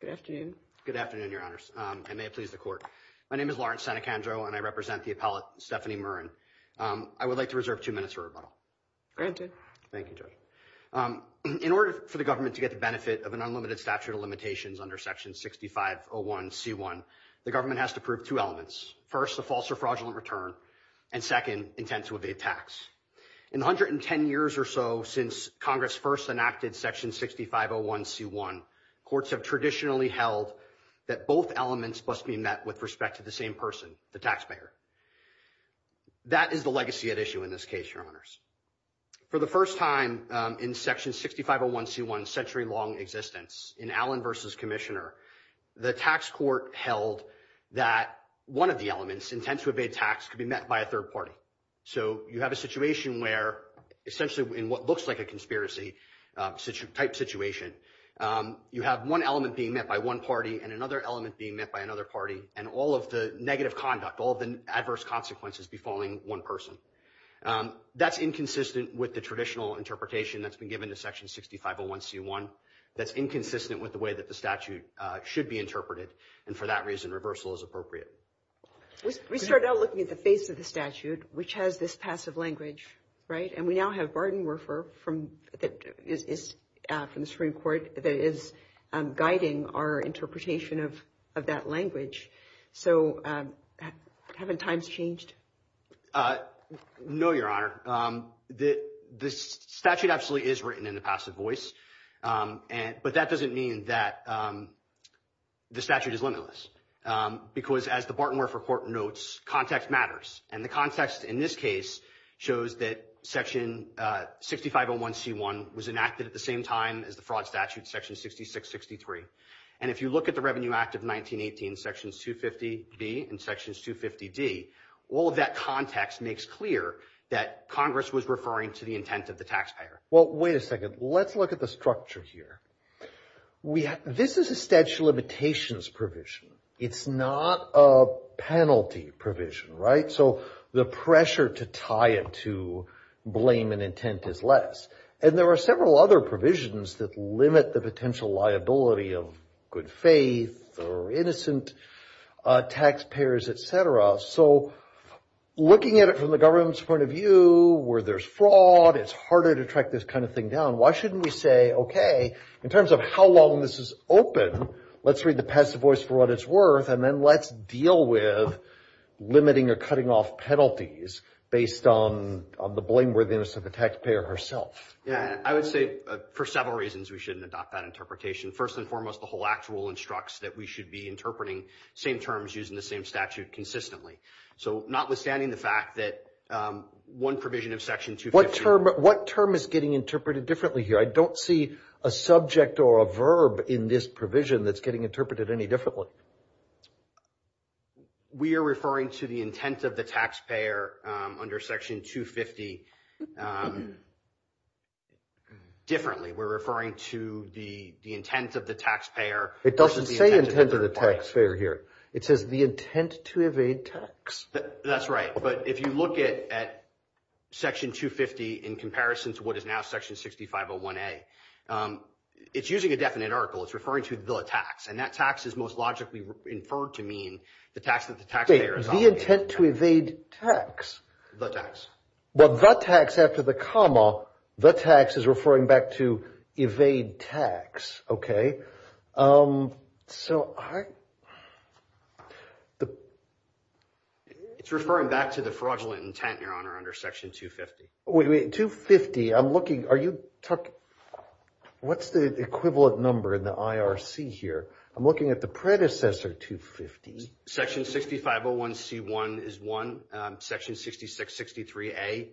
Good afternoon. Good afternoon, Your Honors. I may have pleased the court. My name is Lawrence Senecandro, and I represent the appellate Stephanie Murrin. I would like to reserve two minutes for rebuttal. Granted. Thank you, Judge. In order for the government to get the benefit of an unlimited statute of limitations under Section 6501C1, the government has to prove two elements. First, a false or fraudulent return, and second, intent to evade tax. In the 110 years or so since Congress first enacted Section 6501C1, courts have traditionally held that both elements must be met with respect to the same person, the taxpayer. That is the legacy at issue in this case, Your Honors. For the first time in Section 6501C1's century-long existence, in Allen v. Commissioner, the tax court held that one of the elements, intent to evade tax, could be met by a third party. So you have a situation where, essentially in what looks like a conspiracy-type situation, you have one element being met by one party and another element being met by another party, and all of the negative conduct, all of the adverse consequences befalling one person. That's inconsistent with the traditional interpretation that's been given to Section 6501C1. That's inconsistent with the way that the statute should be interpreted, and for that reason, reversal is appropriate. We started out looking at the face of the statute, which has this passive language, right? And we now have Barton Werfer from the Supreme Court that is guiding our interpretation of that language. So haven't times changed? No, Your Honor. The statute absolutely is written in the passive voice, but that doesn't mean that the statute is limitless, because as the Barton Werfer report notes, context matters. And the context in this case shows that Section 6501C1 was enacted at the same time as the fraud statute, Section 6663. And if you look at the Revenue Act of 1918, Sections 250B and Sections 250D, all of that context makes clear that Congress was referring to the intent of the taxpayer. Well, wait a second. Let's look at the structure here. This is a statute of limitations provision. It's not a penalty provision, right? So the pressure to tie it to blame and intent is less. And there are several other provisions that limit the potential liability of good faith or innocent taxpayers, et cetera. So looking at it from the government's point of view where there's fraud, it's harder to track this kind of thing down. Why shouldn't we say, okay, in terms of how long this is open, let's read the passive voice for what it's worth, and then let's deal with limiting or cutting off penalties based on the blameworthiness of the taxpayer herself? Yeah, I would say for several reasons we shouldn't adopt that interpretation. First and foremost, the whole Act rule instructs that we should be interpreting same terms using the same statute consistently. So notwithstanding the fact that one provision of Section 250. What term is getting interpreted differently here? I don't see a subject or a verb in this provision that's getting interpreted any differently. We are referring to the intent of the taxpayer under Section 250 differently. We're referring to the intent of the taxpayer. It doesn't say intent of the taxpayer here. It says the intent to evade tax. That's right. But if you look at Section 250 in comparison to what is now Section 6501A, it's using a definite article. It's referring to the tax, and that tax is most logically inferred to mean the tax that the taxpayer is offering. The intent to evade tax. The tax. Well, the tax after the comma, the tax is referring back to evade tax. It's referring back to the fraudulent intent, Your Honor, under Section 250. 250, I'm looking, are you talking, what's the equivalent number in the IRC here? I'm looking at the predecessor 250. Section 6501C1 is one. Section 6663A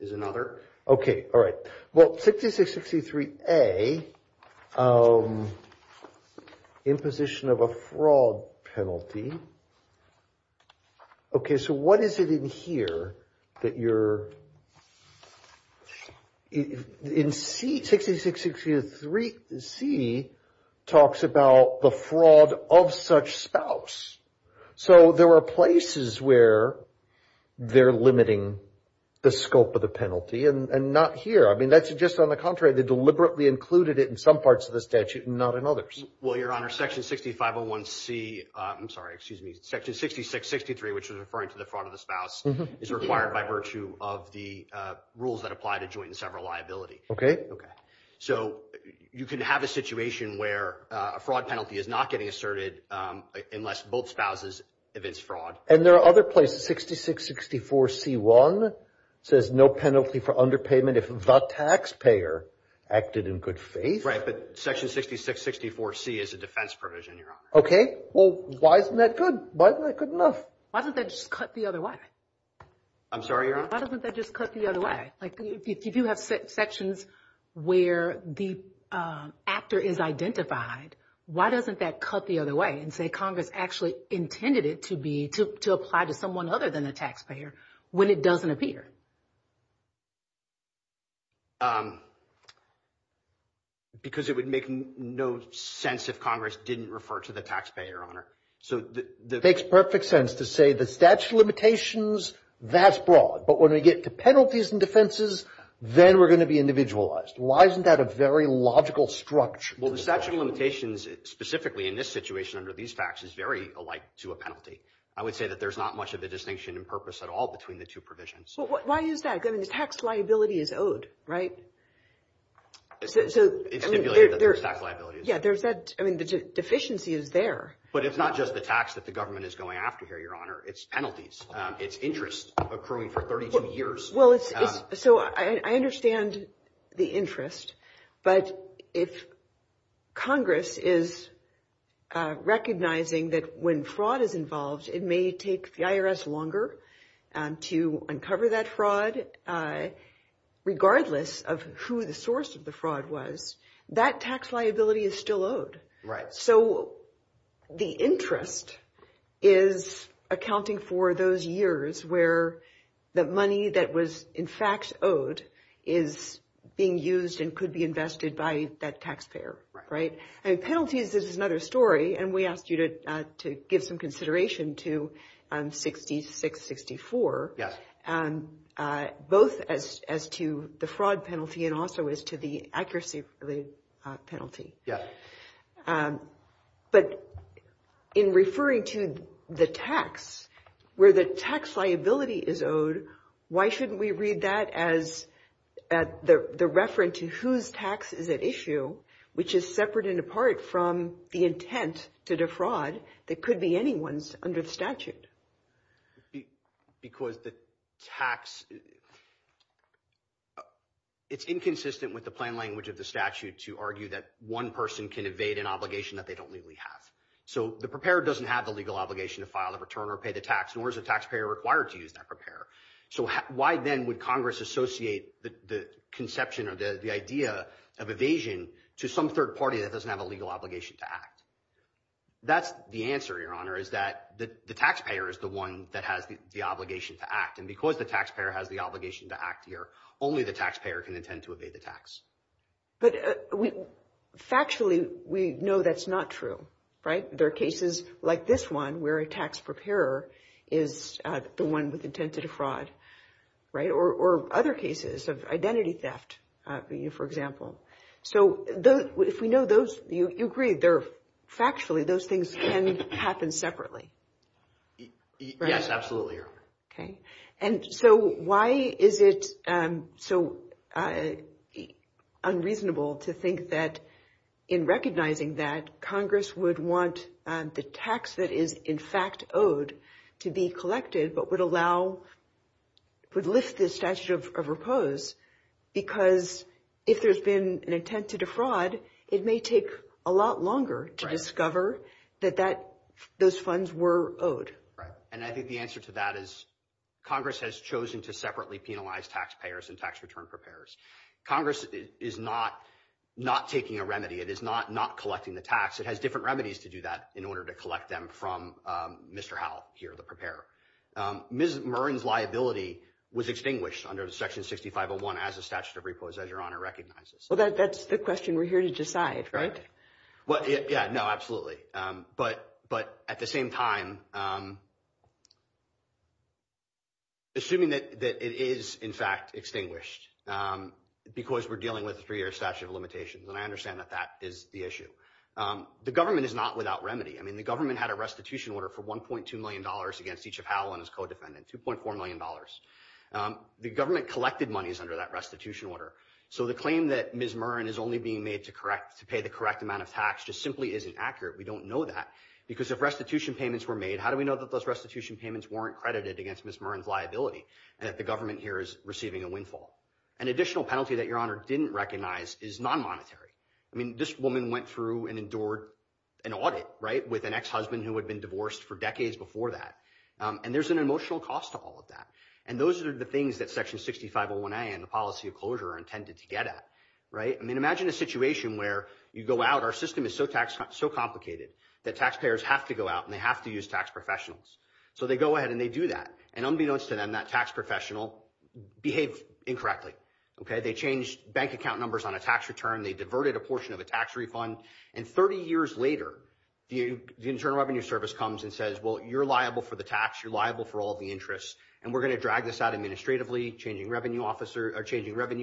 is another. Okay. All right. Well, 6663A, imposition of a fraud penalty. So what is it in here that you're, in C, 6663C talks about the fraud of such spouse. So there are places where they're limiting the scope of the penalty, and not here. I mean, that's just on the contrary. They deliberately included it in some parts of the statute and not in others. Well, Your Honor, Section 6501C, I'm sorry, excuse me, Section 6663, which is referring to the fraud of the spouse, is required by virtue of the rules that apply to joint and several liability. Okay. Okay. So you can have a situation where a fraud penalty is not getting asserted unless both spouses evince fraud. And there are other places, 6664C1 says no penalty for underpayment if the taxpayer acted in good faith. Right. But Section 6664C is a defense provision, Your Honor. Okay. Well, why isn't that good? Why isn't that good enough? Why doesn't that just cut the other way? I'm sorry, Your Honor? Why doesn't that just cut the other way? Why? Like, if you have sections where the actor is identified, why doesn't that cut the other way and say Congress actually intended it to be to apply to someone other than the taxpayer when it doesn't appear? Because it would make no sense if Congress didn't refer to the taxpayer, Your Honor. It makes perfect sense to say the statute of limitations, that's broad. But when we get to penalties and defenses, then we're going to be individualized. Why isn't that a very logical structure? Well, the statute of limitations, specifically in this situation under these facts, is very alike to a penalty. I would say that there's not much of a distinction in purpose at all between the two provisions. Why is that? I mean, the tax liability is owed, right? It's stipulated that there's tax liability. Yeah, there's that. I mean, the deficiency is there. But it's not just the tax that the government is going after here, Your Honor. It's penalties. It's interest accruing for 32 years. Well, so I understand the interest. But if Congress is recognizing that when fraud is involved, it may take the IRS longer to uncover that fraud, regardless of who the source of the fraud was, that tax liability is still owed. Right. So the interest is accounting for those years where the money that was, in fact, owed is being used and could be invested by that taxpayer. And penalties, this is another story, and we asked you to give some consideration to 66-64. Yes. Both as to the fraud penalty and also as to the accuracy penalty. Yeah. But in referring to the tax, where the tax liability is owed, why shouldn't we read that as the reference to whose tax is at issue, which is separate and apart from the intent to defraud that could be anyone's under the statute? Because the tax, it's inconsistent with the plain language of the statute to argue that one person can evade an obligation that they don't legally have. So the preparer doesn't have the legal obligation to file the return or pay the tax, nor is the taxpayer required to use that preparer. So why then would Congress associate the conception or the idea of evasion to some third party that doesn't have a legal obligation to act? That's the answer, Your Honor, is that the taxpayer is the one that has the obligation to act. And because the taxpayer has the obligation to act here, only the taxpayer can intend to evade the tax. But factually, we know that's not true, right? There are cases like this one where a tax preparer is the one with intent to defraud, right? Or other cases of identity theft, for example. So if we know those, you agree, factually, those things can happen separately, right? Yes, absolutely, Your Honor. Okay. And so why is it so unreasonable to think that in recognizing that, Congress would want the tax that is in fact owed to be collected, but would lift the statute of repose? Because if there's been an intent to defraud, it may take a lot longer to discover that those funds were owed. And I think the answer to that is Congress has chosen to separately penalize taxpayers and tax return preparers. Congress is not taking a remedy. It is not collecting the tax. It has different remedies to do that in order to collect them from Mr. Howell here, the preparer. Ms. Murren's liability was extinguished under Section 6501 as a statute of repose, as Your Honor recognizes. Well, that's the question we're here to decide, right? Yeah, no, absolutely. But at the same time, assuming that it is, in fact, extinguished because we're dealing with a three-year statute of limitations, and I understand that that is the issue, the government is not without remedy. I mean, the government had a restitution order for $1.2 million against each of Howell and his co-defendants, $2.4 million. The government collected monies under that restitution order. So the claim that Ms. Murren is only being made to pay the correct amount of tax just simply isn't accurate. We don't know that because if restitution payments were made, how do we know that those restitution payments weren't credited against Ms. Murren's liability, and that the government here is receiving a windfall? An additional penalty that Your Honor didn't recognize is non-monetary. I mean, this woman went through and endured an audit, right, with an ex-husband who had been divorced for decades before that. And there's an emotional cost to all of that. And those are the things that Section 6501A and the policy of closure are intended to get at, right? I mean, imagine a situation where you go out. Our system is so complicated that taxpayers have to go out and they have to use tax professionals. So they go ahead and they do that. And unbeknownst to them, that tax professional behaved incorrectly, okay? They changed bank account numbers on a tax return. They diverted a portion of a tax refund. And 30 years later, the Internal Revenue Service comes and says, well, you're liable for the tax. You're liable for all the interests. And we're going to drag this out administratively, changing revenue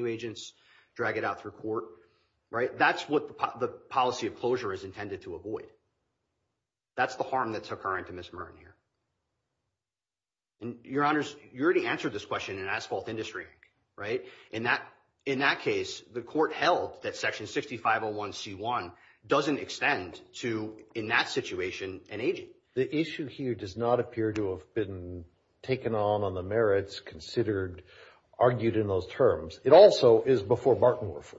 agents, drag it out through court, right? That's what the policy of closure is intended to avoid. That's the harm that's occurring to Ms. Merton here. And, Your Honors, you already answered this question in asphalt industry, right? In that case, the court held that Section 6501C1 doesn't extend to, in that situation, an agent. The issue here does not appear to have been taken on on the merits considered, argued in those terms. It also is before Bartenwerfer.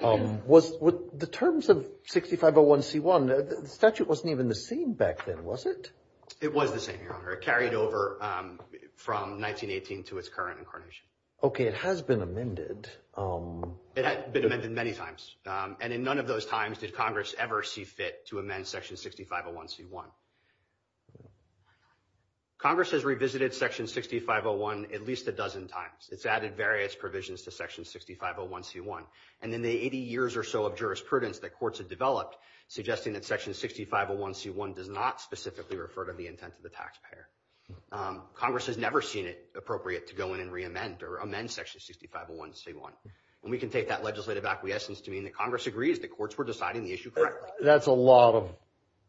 The terms of 6501C1, the statute wasn't even the same back then, was it? It was the same, Your Honor. It carried over from 1918 to its current incarnation. Okay, it has been amended. It had been amended many times. And in none of those times did Congress ever see fit to amend Section 6501C1. Congress has revisited Section 6501 at least a dozen times. It's added various provisions to Section 6501C1. And in the 80 years or so of jurisprudence that courts have developed, suggesting that Section 6501C1 does not specifically refer to the intent of the taxpayer. Congress has never seen it appropriate to go in and re-amend or amend Section 6501C1. And we can take that legislative acquiescence to mean that Congress agrees the courts were deciding the issue correctly. That's a lot of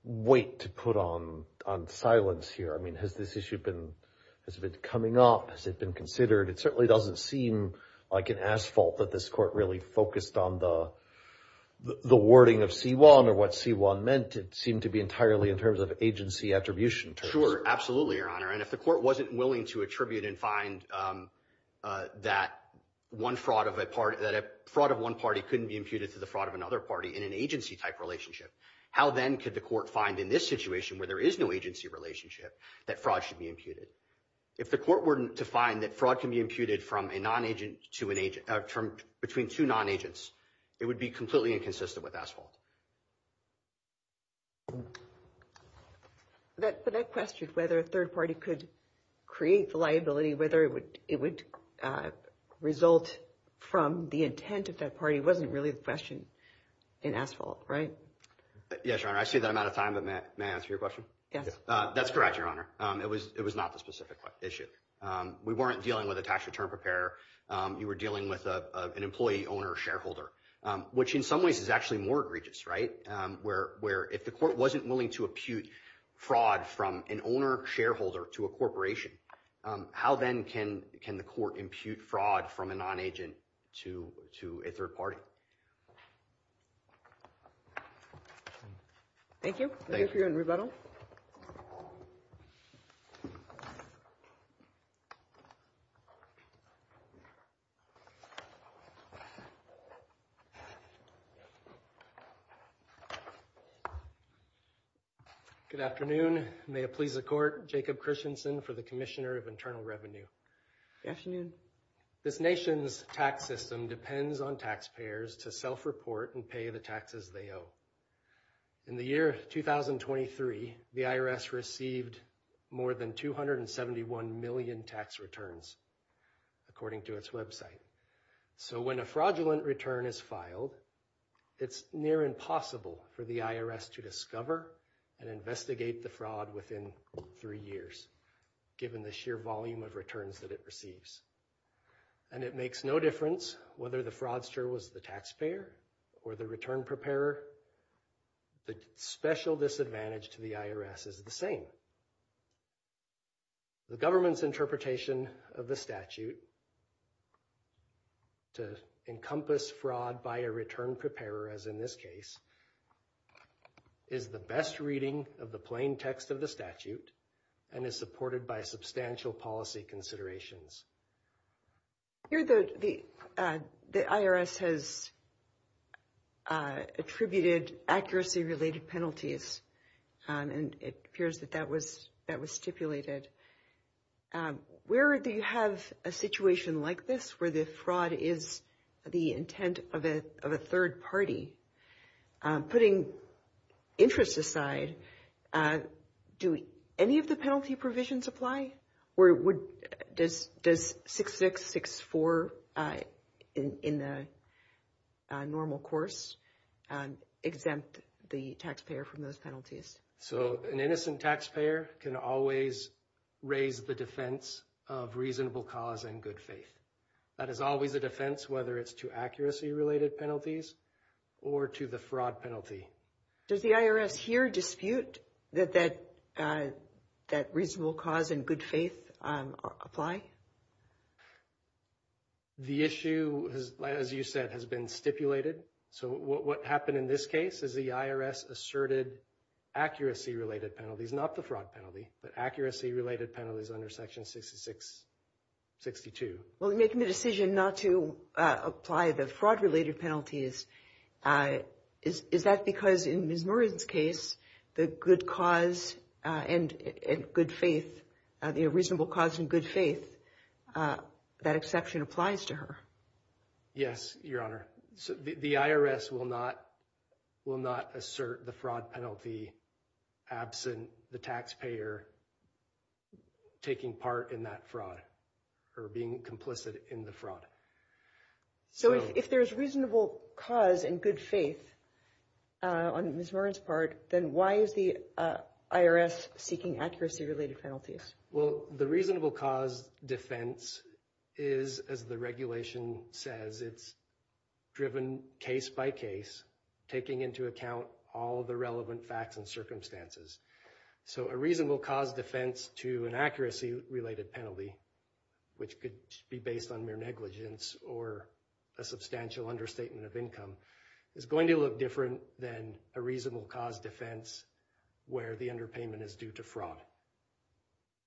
weight to put on silence here. I mean, has this issue been coming up? Has it been considered? It certainly doesn't seem like an asphalt that this court really focused on the wording of C1 or what C1 meant. It seemed to be entirely in terms of agency attribution. Sure, absolutely, Your Honor. And if the court wasn't willing to attribute and find that fraud of one party couldn't be imputed to the fraud of another party in an agency-type relationship, how then could the court find in this situation where there is no agency relationship that fraud should be imputed? If the court were to find that fraud can be imputed between two non-agents, it would be completely inconsistent with asphalt. But that question, whether a third party could create the liability, whether it would result from the intent of that party, wasn't really the question in asphalt, right? Yes, Your Honor. I saved that amount of time, but may I answer your question? Yes. That's correct, Your Honor. It was not the specific issue. We weren't dealing with a tax return preparer. You were dealing with an employee, owner, shareholder, which in some ways is actually more egregious, right, where if the court wasn't willing to impute fraud from an owner shareholder to a corporation, how then can the court impute fraud from a non-agent to a third party? Thank you. Thank you. Thank you for your rebuttal. Good afternoon. May it please the court, Jacob Christensen for the Commissioner of Internal Revenue. Good afternoon. This nation's tax system depends on taxpayers to self-report and pay the taxes they owe. In the year 2023, the IRS received more than 271 million tax returns, according to its website. So when a fraudulent return is filed, it's near impossible for the IRS to discover and investigate the fraud within three years, given the sheer volume of returns that it receives. And it makes no difference whether the fraudster was the taxpayer or the return preparer. The special disadvantage to the IRS is the same. The government's interpretation of the statute to encompass fraud by a return preparer, as in this case, is the best reading of the plain text of the statute and is supported by substantial policy considerations. Here, the IRS has attributed accuracy-related penalties, and it appears that that was stipulated. Where do you have a situation like this, where the fraud is the intent of a third party? Putting interests aside, do any of the penalty provisions apply? Or does 6664 in the normal course exempt the taxpayer from those penalties? So an innocent taxpayer can always raise the defense of reasonable cause and good faith. That is always a defense, whether it's to accuracy-related penalties or to the fraud penalty. Does the IRS here dispute that that reasonable cause and good faith apply? The issue, as you said, has been stipulated. So what happened in this case is the IRS asserted accuracy-related penalties, not the fraud penalty, but accuracy-related penalties under Section 6662. Well, in making the decision not to apply the fraud-related penalties, is that because in Ms. Murren's case, the good cause and good faith, the reasonable cause and good faith, that exception applies to her? Yes, Your Honor. The IRS will not assert the fraud penalty absent the taxpayer taking part in that fraud or being complicit in the fraud. So if there's reasonable cause and good faith on Ms. Murren's part, then why is the IRS seeking accuracy-related penalties? Well, the reasonable cause defense is, as the regulation says, it's driven case by case, taking into account all the relevant facts and circumstances. So a reasonable cause defense to an accuracy-related penalty, which could be based on mere negligence or a substantial understatement of income, is going to look different than a reasonable cause defense where the underpayment is due to fraud.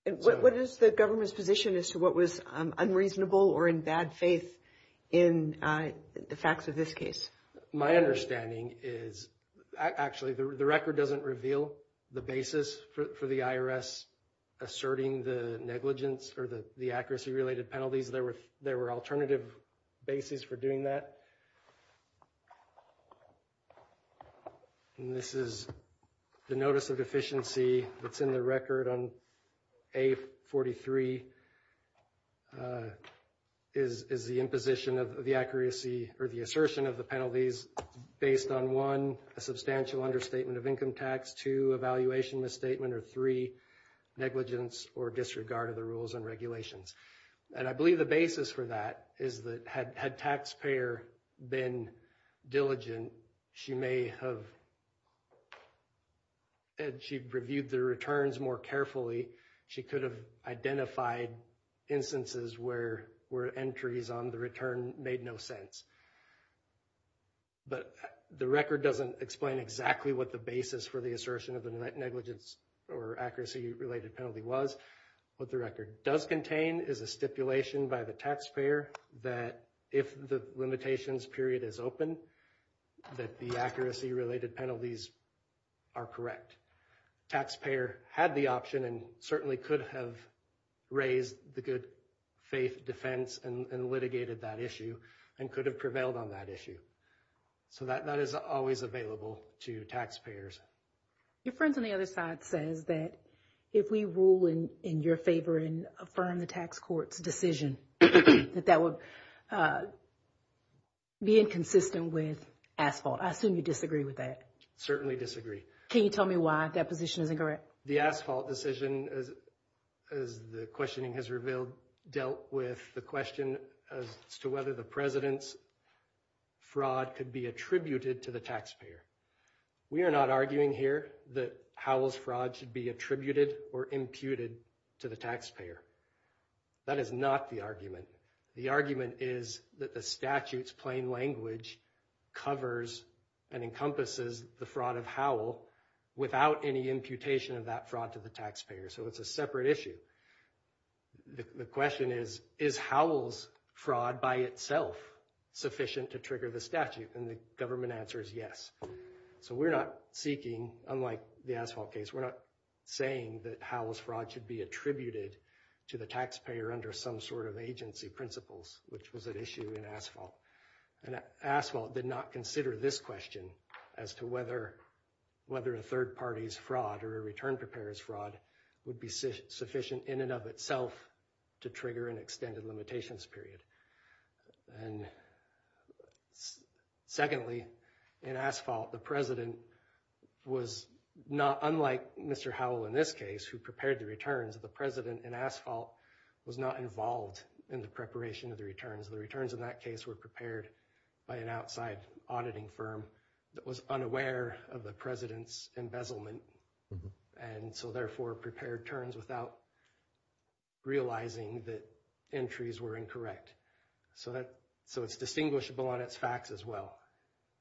And what is the government's position as to what was unreasonable or in bad faith in the facts of this case? My understanding is, actually, the record doesn't reveal the basis for the IRS asserting the negligence or the accuracy-related penalties. There were alternative bases for doing that. And this is the notice of deficiency that's in the record on A43 is the imposition of the accuracy or the assertion of the penalties based on, one, a substantial understatement of income tax, two, evaluation misstatement, or three, negligence or disregard of the rules and regulations. And I believe the basis for that is that had taxpayer been diligent, she may have reviewed the returns more carefully. She could have identified instances where entries on the return made no sense. But the record doesn't explain exactly what the basis for the assertion of the negligence or accuracy-related penalty was. What the record does contain is a stipulation by the taxpayer that if the limitations period is open, that the accuracy-related penalties are correct. Taxpayer had the option and certainly could have raised the good faith defense and litigated that issue and could have prevailed on that issue. So that is always available to taxpayers. Your friend on the other side says that if we rule in your favor and affirm the tax court's decision, that that would be inconsistent with asphalt. I assume you disagree with that. Certainly disagree. Can you tell me why that position isn't correct? The asphalt decision, as the questioning has revealed, dealt with the question as to whether the president's fraud could be attributed to the taxpayer. We are not arguing here that Howell's fraud should be attributed or imputed to the taxpayer. That is not the argument. The argument is that the statute's plain language covers and encompasses the fraud of Howell without any imputation of that fraud to the taxpayer. So it's a separate issue. The question is, is Howell's fraud by itself sufficient to trigger the statute? And the government answer is yes. So we're not seeking, unlike the asphalt case, we're not saying that Howell's fraud should be attributed to the taxpayer under some sort of agency principles, which was an issue in asphalt. And asphalt did not consider this question, as to whether a third party's fraud or a return preparer's fraud would be sufficient in and of itself to trigger an extended limitations period. And secondly, in asphalt, the president was not, unlike Mr. Howell in this case, who prepared the returns, the president in asphalt was not involved in the preparation of the returns. The returns in that case were prepared by an outside auditing firm that was unaware of the president's embezzlement, and so therefore prepared terms without realizing that entries were incorrect. So it's distinguishable on its facts as well.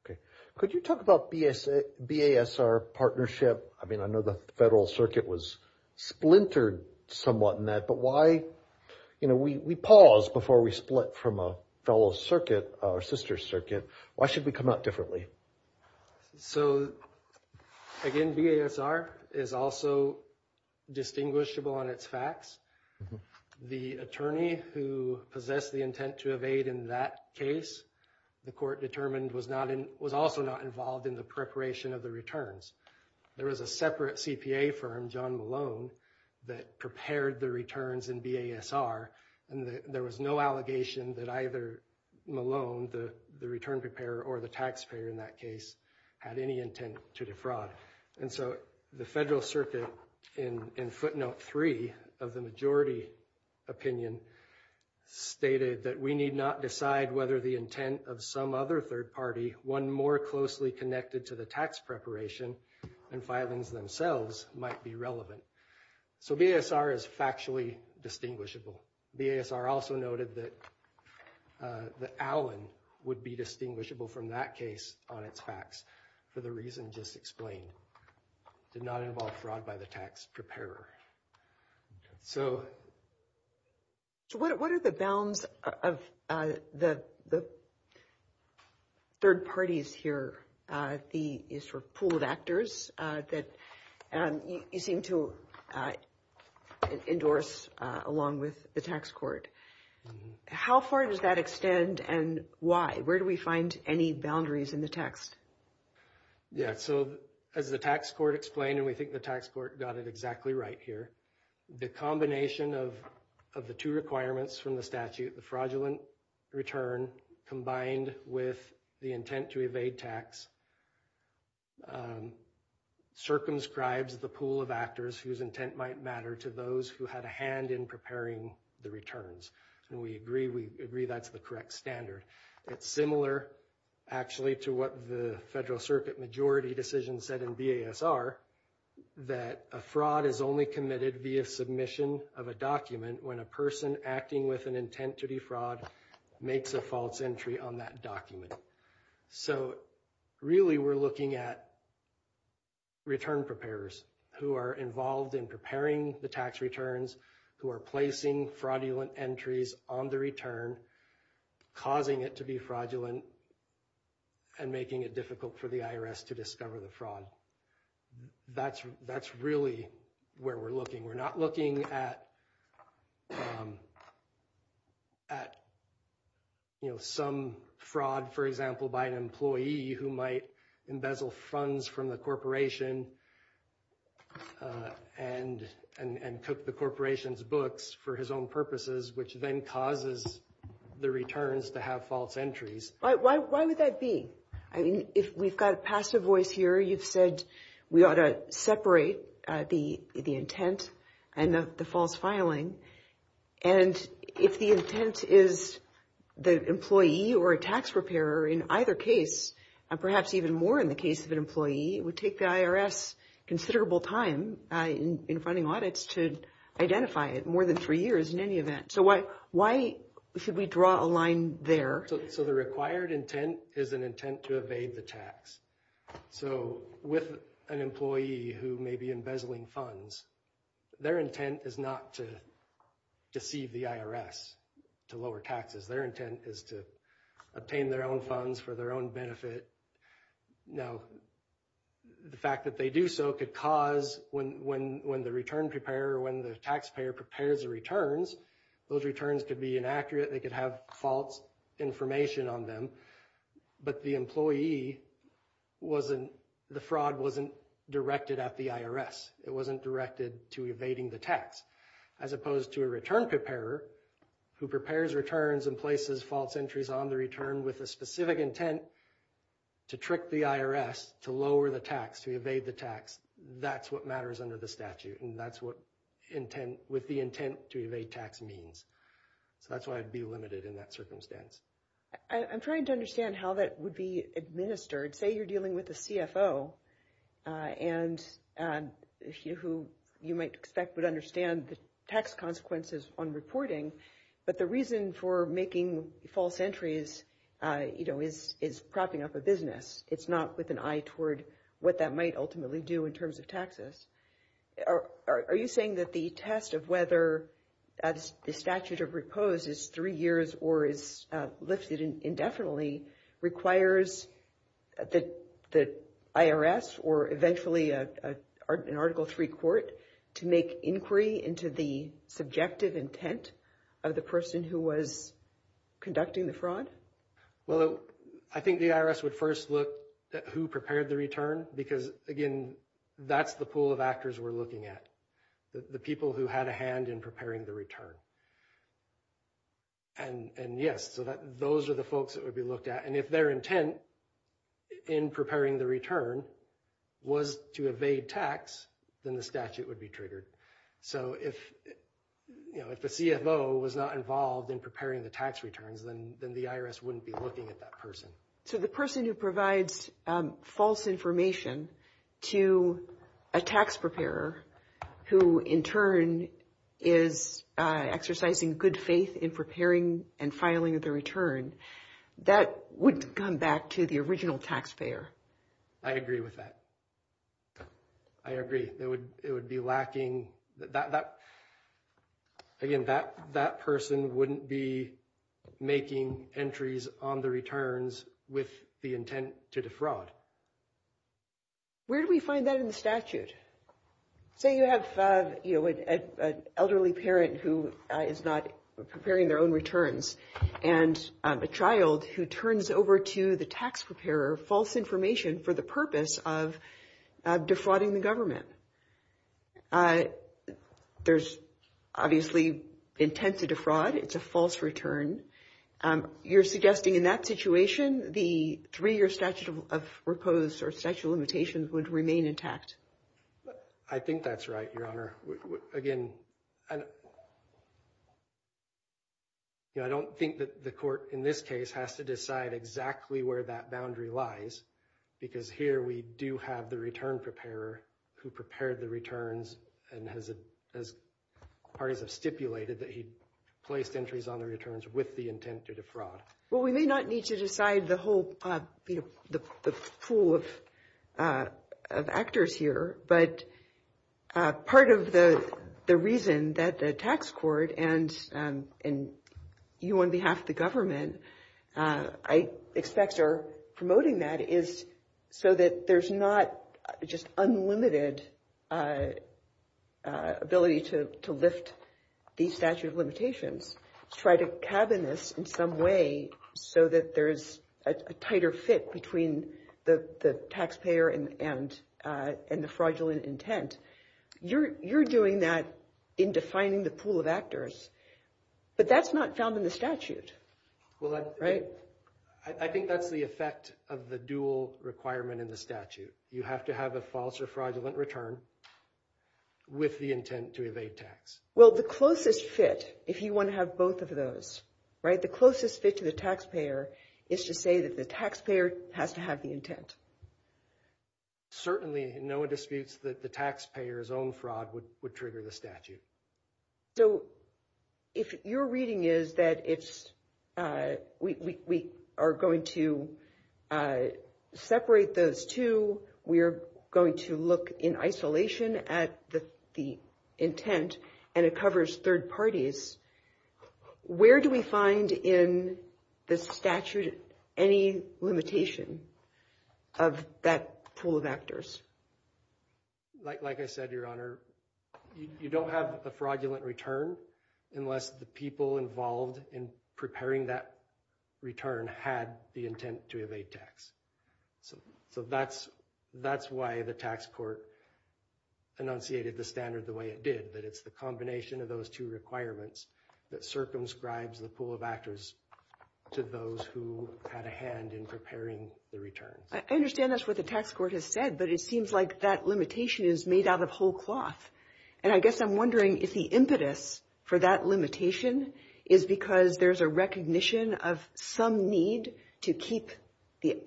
Okay. Could you talk about BASR partnership? I mean, I know the federal circuit was splintered somewhat in that, but why, you know, we pause before we split from a fellow circuit, our sister circuit, why should we come out differently? So, again, BASR is also distinguishable on its facts. The attorney who possessed the intent to evade in that case, the court determined was also not involved in the preparation of the returns. There was a separate CPA firm, John Malone, that prepared the returns in BASR, and there was no allegation that either Malone, the return preparer, or the taxpayer in that case had any intent to defraud. And so the federal circuit, in footnote three of the majority opinion, stated that we need not decide whether the intent of some other third party, one more closely connected to the tax preparation than filings themselves, might be relevant. So BASR is factually distinguishable. BASR also noted that Allen would be distinguishable from that case on its facts, for the reason just explained, did not involve fraud by the tax preparer. So. So what are the bounds of the third parties here, the sort of pool of actors that you seem to endorse along with the tax court? How far does that extend and why? Where do we find any boundaries in the text? Yeah, so as the tax court explained, and we think the tax court got it exactly right here, the combination of the two requirements from the statute, the fraudulent return combined with the intent to evade tax, circumscribes the pool of actors whose intent might matter to those who had a hand in preparing the returns. And we agree that's the correct standard. It's similar, actually, to what the Federal Circuit majority decision said in BASR, that a fraud is only committed via submission of a document when a person acting with an intent to defraud makes a false entry on that document. So really, we're looking at return preparers who are involved in preparing the tax returns, who are placing fraudulent entries on the return, causing it to be fraudulent and making it difficult for the IRS to discover the fraud. That's that's really where we're looking. We're not looking at some fraud, for example, by an employee who might embezzle funds from the corporation and cook the corporation's books for his own purposes, which then causes the returns to have false entries. Why would that be? I mean, if we've got a passive voice here, you've said we ought to separate the intent and the false filing. And if the intent is the employee or a tax preparer in either case, and perhaps even more in the case of an employee, it would take the IRS considerable time in funding audits to identify it, more than three years in any event. So why should we draw a line there? So the required intent is an intent to evade the tax. So with an employee who may be embezzling funds, their intent is not to deceive the IRS to lower taxes. Their intent is to obtain their own funds for their own benefit. Now, the fact that they do so could cause when the return preparer, when the taxpayer prepares the returns, those returns could be inaccurate. They could have false information on them. But the employee wasn't, the fraud wasn't directed at the IRS. It wasn't directed to evading the tax. As opposed to a return preparer who prepares returns and places false entries on the return with a specific intent to trick the IRS to lower the tax, to evade the tax. That's what matters under the statute. And that's what intent, with the intent to evade tax means. So that's why I'd be limited in that circumstance. I'm trying to understand how that would be administered. Say you're dealing with a CFO and who you might expect would understand the tax consequences on reporting. But the reason for making false entries, you know, is propping up a business. It's not with an eye toward what that might ultimately do in terms of taxes. Are you saying that the test of whether the statute of repose is three years or is lifted indefinitely requires the IRS or eventually an Article III court to make inquiry into the subjective intent of the person who was conducting the fraud? Well, I think the IRS would first look at who prepared the return. Because, again, that's the pool of actors we're looking at. The people who had a hand in preparing the return. And yes, those are the folks that would be looked at. And if their intent in preparing the return was to evade tax, then the statute would be triggered. So if the CFO was not involved in preparing the tax returns, then the IRS wouldn't be looking at that person. So the person who provides false information to a tax preparer who, in turn, is exercising good faith in preparing and filing the return, that would come back to the original taxpayer. I agree with that. I agree. It would be lacking. Again, that person wouldn't be making entries on the returns with the intent to defraud. Where do we find that in the statute? Say you have an elderly parent who is not preparing their own returns and a child who turns over to the tax preparer false information for the purpose of defrauding the government. There's obviously intent to defraud. It's a false return. You're suggesting in that situation, the three-year statute of repose or statute of limitations would remain intact. I think that's right, Your Honor. Again, I don't think that the court in this case has to decide exactly where that boundary lies, because here we do have the return preparer who prepared the returns and has, as parties have stipulated, that he placed entries on the returns with the intent to defraud. Well, we may not need to decide the whole pool of actors here, but part of the reason that the tax court and you on behalf of the government, I expect, are promoting that is so that there's not just unlimited ability to lift these statute of limitations. Try to cabin this in some way so that there's a tighter fit between the taxpayer and the fraudulent intent. You're doing that in defining the pool of actors, but that's not found in the statute, right? I think that's the effect of the dual requirement in the statute. You have to have a false or fraudulent return with the intent to evade tax. Well, the closest fit, if you want to have both of those, right, the closest fit to the taxpayer is to say that the taxpayer has to have the intent. Certainly, no one disputes that the taxpayer's own fraud would trigger the statute. So if your reading is that we are going to separate those two, we are going to look in isolation at the intent, and it covers third parties, where do we find in the statute any limitation of that pool of actors? Like I said, Your Honor, you don't have a fraudulent return unless the people involved in preparing that return had the intent to evade tax. So that's why the tax court enunciated the standard the way it did, that it's the combination of those two requirements that circumscribes the pool of actors to those who had a hand in preparing the return. I understand that's what the tax court has said, but it seems like that limitation is made out of whole cloth. And I guess I'm wondering if the impetus for that limitation is because there's a recognition of some need to keep the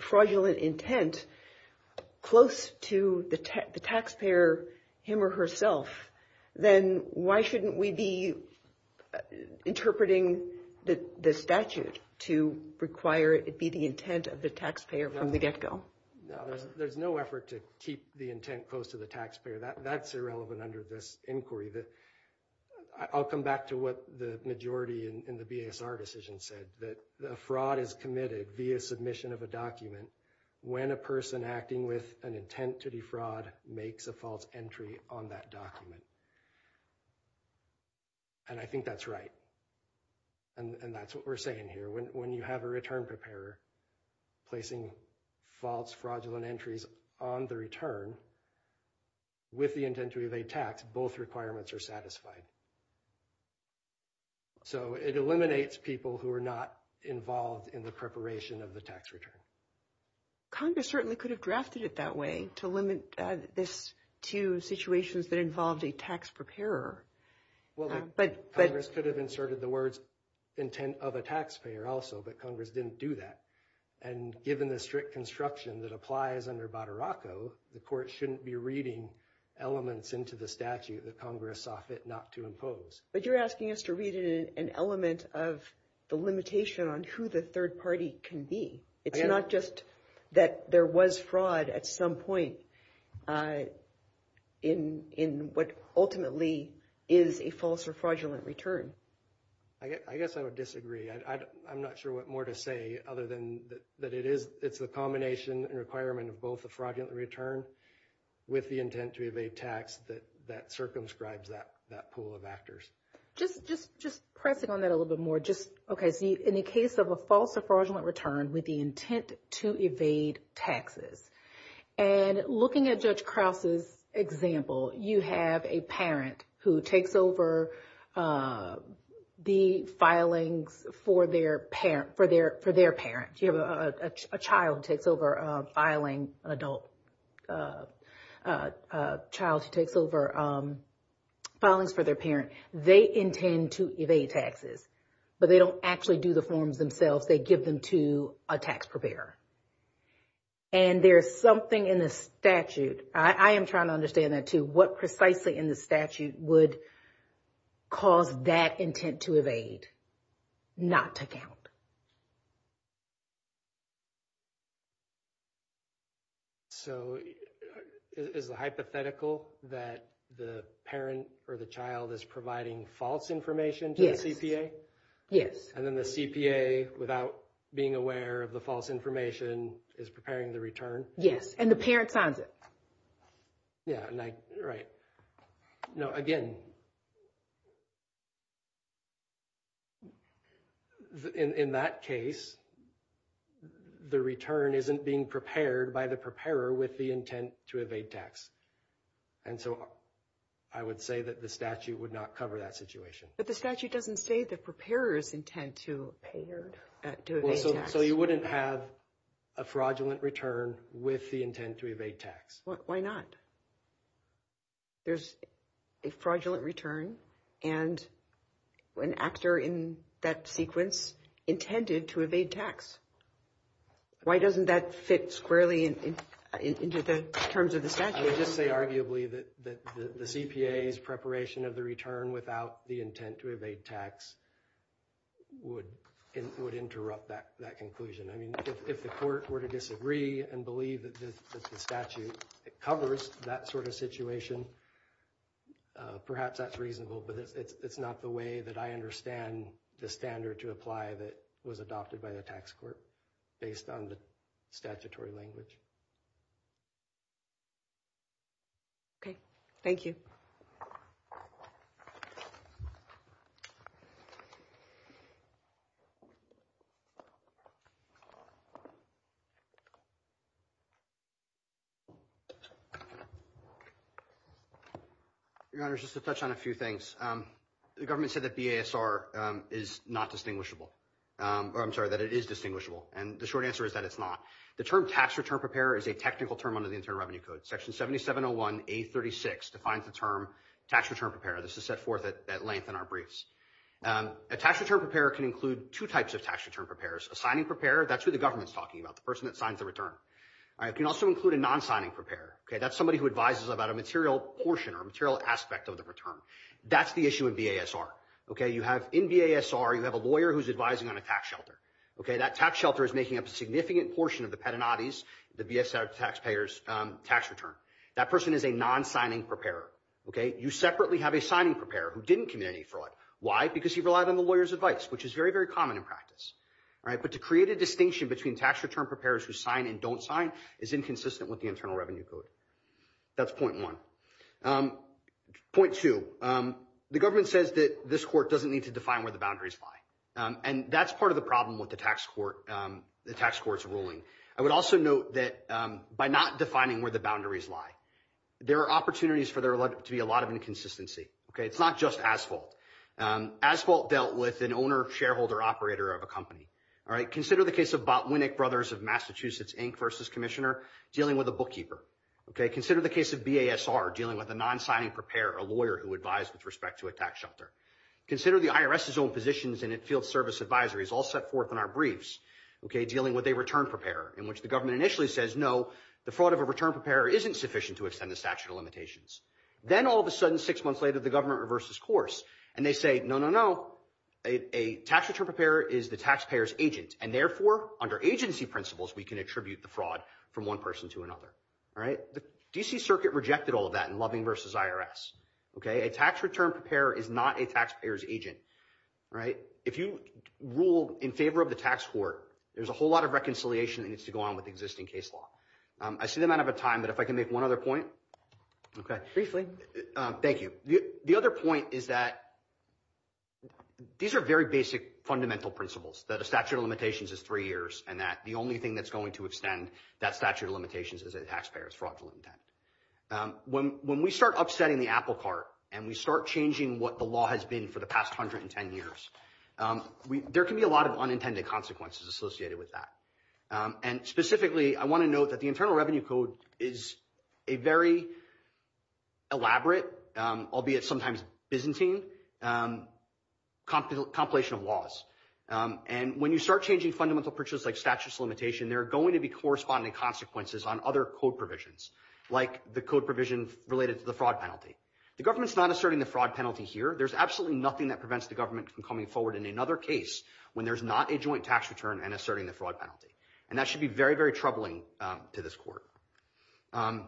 fraudulent intent close to the taxpayer, him or herself, then why shouldn't we be interpreting the statute to require it be the intent of the taxpayer from the get-go? There's no effort to keep the intent close to the taxpayer. That's irrelevant under this inquiry. I'll come back to what the majority in the BASR decision said, that a fraud is committed via submission of a document when a person acting with an intent to defraud makes a false entry on that document. And I think that's right. And that's what we're saying here. When you have a return preparer placing false, fraudulent entries on the return with the intent to evade tax, both requirements are satisfied. So it eliminates people who are not involved in the preparation of the tax return. Congress certainly could have drafted it that way, to limit this to situations that involved a tax preparer. Well, Congress could have inserted the words intent of a taxpayer also, but Congress didn't do that. And given the strict construction that applies under Badraco, the court shouldn't be reading elements into the statute that Congress saw fit not to impose. But you're asking us to read an element of the limitation on who the third party can be. It's not just that there was fraud at some point in what ultimately is a false or fraudulent return. I guess I would disagree. I'm not sure what more to say other than that it's the combination and requirement of both the fraudulent return with the intent to evade tax that circumscribes that pool of actors. Just pressing on that a little bit more. Okay, so in the case of a false or fraudulent return with the intent to evade taxes. And looking at Judge Krause's example, you have a parent who takes over the filings for their parent. You have a child who takes over filing, an adult child who takes over filings for their parent. They intend to evade taxes, but they don't actually do the forms themselves. They give them to a tax preparer. And there's something in the statute, I am trying to understand that too, what precisely in the statute would cause that intent to evade not to count. So is the hypothetical that the parent or the child is providing false information to the CPA? Yes. And then the CPA, without being aware of the false information, is preparing the return? Yes, and the parent signs it. Yeah, right. Now, again, in that case, the return isn't being prepared by the preparer with the intent to evade tax. And so I would say that the statute would not cover that situation. But the statute doesn't say the preparer's intent to evade tax. So you wouldn't have a fraudulent return with the intent to evade tax. Why not? There's a fraudulent return and an actor in that sequence intended to evade tax. Why doesn't that fit squarely into the terms of the statute? I would just say arguably that the CPA's preparation of the return without the intent to evade tax would interrupt that conclusion. I mean, if the court were to disagree and believe that the statute covers that sort of situation, perhaps that's reasonable. But it's not the way that I understand the standard to apply that was adopted by the tax court based on the statutory language. OK, thank you. Your Honor, just to touch on a few things, the government said that BASR is not distinguishable. I'm sorry that it is distinguishable. And the short answer is that it's not. The term tax return preparer is a technical term under the Internal Revenue Code. Section 7701A36 defines the term tax return preparer. This is set forth at length in our briefs. A tax return preparer can include two types of tax return preparers. A signing preparer, that's who the government's talking about, the person that signs the return. It can also include a non-signing preparer. That's somebody who advises about a material portion or a material aspect of the return. That's the issue in BASR. In BASR, you have a lawyer who's advising on a tax shelter. OK, that tax shelter is making up a significant portion of the pedonatis, the BASR taxpayers' tax return. That person is a non-signing preparer. OK, you separately have a signing preparer who didn't commit any fraud. Why? Because he relied on the lawyer's advice, which is very, very common in practice. All right, but to create a distinction between tax return preparers who sign and don't sign is inconsistent with the Internal Revenue Code. That's point one. Point two, the government says that this court doesn't need to define where the boundaries lie. And that's part of the problem with the tax court's ruling. I would also note that by not defining where the boundaries lie, there are opportunities for there to be a lot of inconsistency. OK, it's not just Asphalt. Asphalt dealt with an owner, shareholder, operator of a company. All right, consider the case of Botwinick Brothers of Massachusetts Inc. v. Commissioner dealing with a bookkeeper. OK, consider the case of BASR dealing with a non-signing preparer, a lawyer who advised with respect to a tax shelter. Consider the IRS's own positions in its field service advisories, all set forth in our briefs, OK, dealing with a return preparer, in which the government initially says, no, the fraud of a return preparer isn't sufficient to extend the statute of limitations. Then all of a sudden, six months later, the government reverses course and they say, no, no, no, a tax return preparer is the taxpayer's agent. And therefore, under agency principles, we can attribute the fraud from one person to another. All right, the D.C. Circuit rejected all of that in Loving v. IRS. OK, a tax return preparer is not a taxpayer's agent. Right. If you rule in favor of the tax court, there's a whole lot of reconciliation that needs to go on with existing case law. I see the amount of time, but if I can make one other point. OK, briefly. Thank you. The other point is that these are very basic fundamental principles, that a statute of limitations is three years and that the only thing that's going to extend that statute of limitations is a taxpayer's fraudulent intent. When we start upsetting the apple cart and we start changing what the law has been for the past 110 years, there can be a lot of unintended consequences associated with that. And specifically, I want to note that the Internal Revenue Code is a very elaborate, albeit sometimes Byzantine, compilation of laws. And when you start changing fundamental principles like statute of limitations, there are going to be corresponding consequences on other code provisions like the code provision related to the fraud penalty. The government's not asserting the fraud penalty here. There's absolutely nothing that prevents the government from coming forward in another case when there's not a joint tax return and asserting the fraud penalty. And that should be very, very troubling to this court. The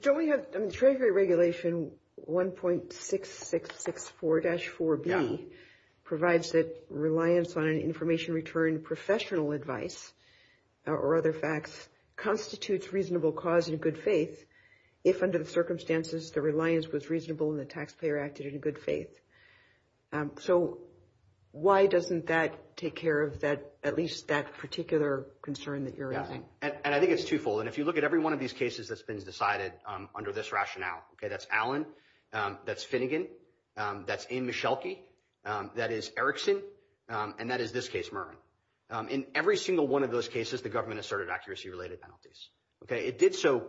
Treasury Regulation 1.6664-4B provides that reliance on an information return, professional advice or other facts, constitutes reasonable cause in good faith if under the circumstances the reliance was reasonable and the taxpayer acted in good faith. So why doesn't that take care of that, at least that particular concern that you're raising? And I think it's twofold. And if you look at every one of these cases that's been decided under this rationale, that's Allen, that's Finnegan, that's Aimee Meschelke, that is Erickson, and that is this case, Mervyn. In every single one of those cases, the government asserted accuracy-related penalties. It did so,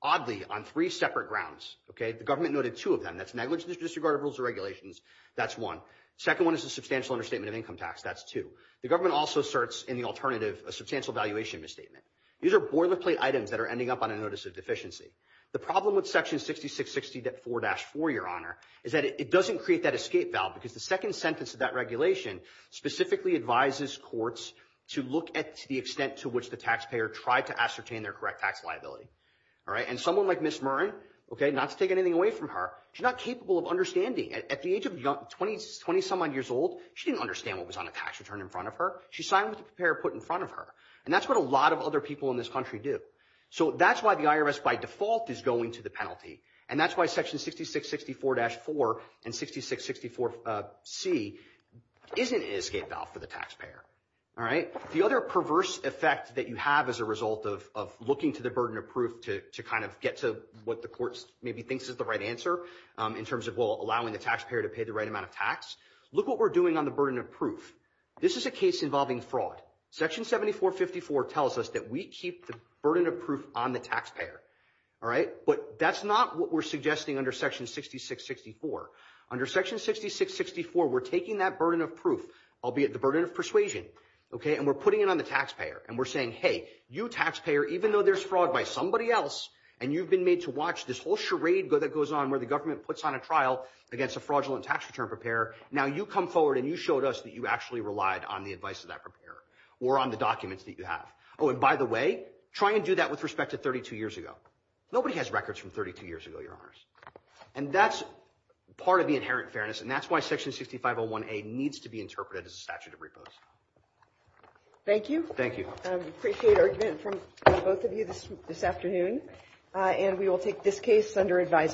oddly, on three separate grounds. The government noted two of them. That's negligence disregard of rules and regulations. That's one. The second one is a substantial understatement of income tax. That's two. The government also asserts in the alternative a substantial valuation misstatement. These are boilerplate items that are ending up on a notice of deficiency. The problem with Section 6660.4-4, Your Honor, is that it doesn't create that escape valve because the second sentence of that regulation specifically advises courts to look at the extent to which the taxpayer tried to ascertain their correct tax liability. And someone like Ms. Murren, not to take anything away from her, she's not capable of understanding. At the age of 20-some-odd years old, she didn't understand what was on a tax return in front of her. She signed what the preparer put in front of her. And that's what a lot of other people in this country do. So that's why the IRS, by default, is going to the penalty. And that's why Section 6664-4 and 6664C isn't an escape valve for the taxpayer. The other perverse effect that you have as a result of looking to the burden of proof to kind of get to what the courts maybe thinks is the right answer in terms of allowing the taxpayer to pay the right amount of tax, look what we're doing on the burden of proof. This is a case involving fraud. Section 7454 tells us that we keep the burden of proof on the taxpayer. But that's not what we're suggesting under Section 6664. Under Section 6664, we're taking that burden of proof, albeit the burden of persuasion, and we're putting it on the taxpayer. And we're saying, hey, you taxpayer, even though there's fraud by somebody else, and you've been made to watch this whole charade that goes on where the government puts on a trial against a fraudulent tax return preparer, now you come forward and you showed us that you actually relied on the advice of that preparer or on the documents that you have. Oh, and by the way, try and do that with respect to 32 years ago. Nobody has records from 32 years ago, Your Honors. And that's part of the inherent fairness, and that's why Section 6501A needs to be interpreted as a statute of repose. Thank you. Thank you. We appreciate our event from both of you this afternoon, and we will take this case under advisement.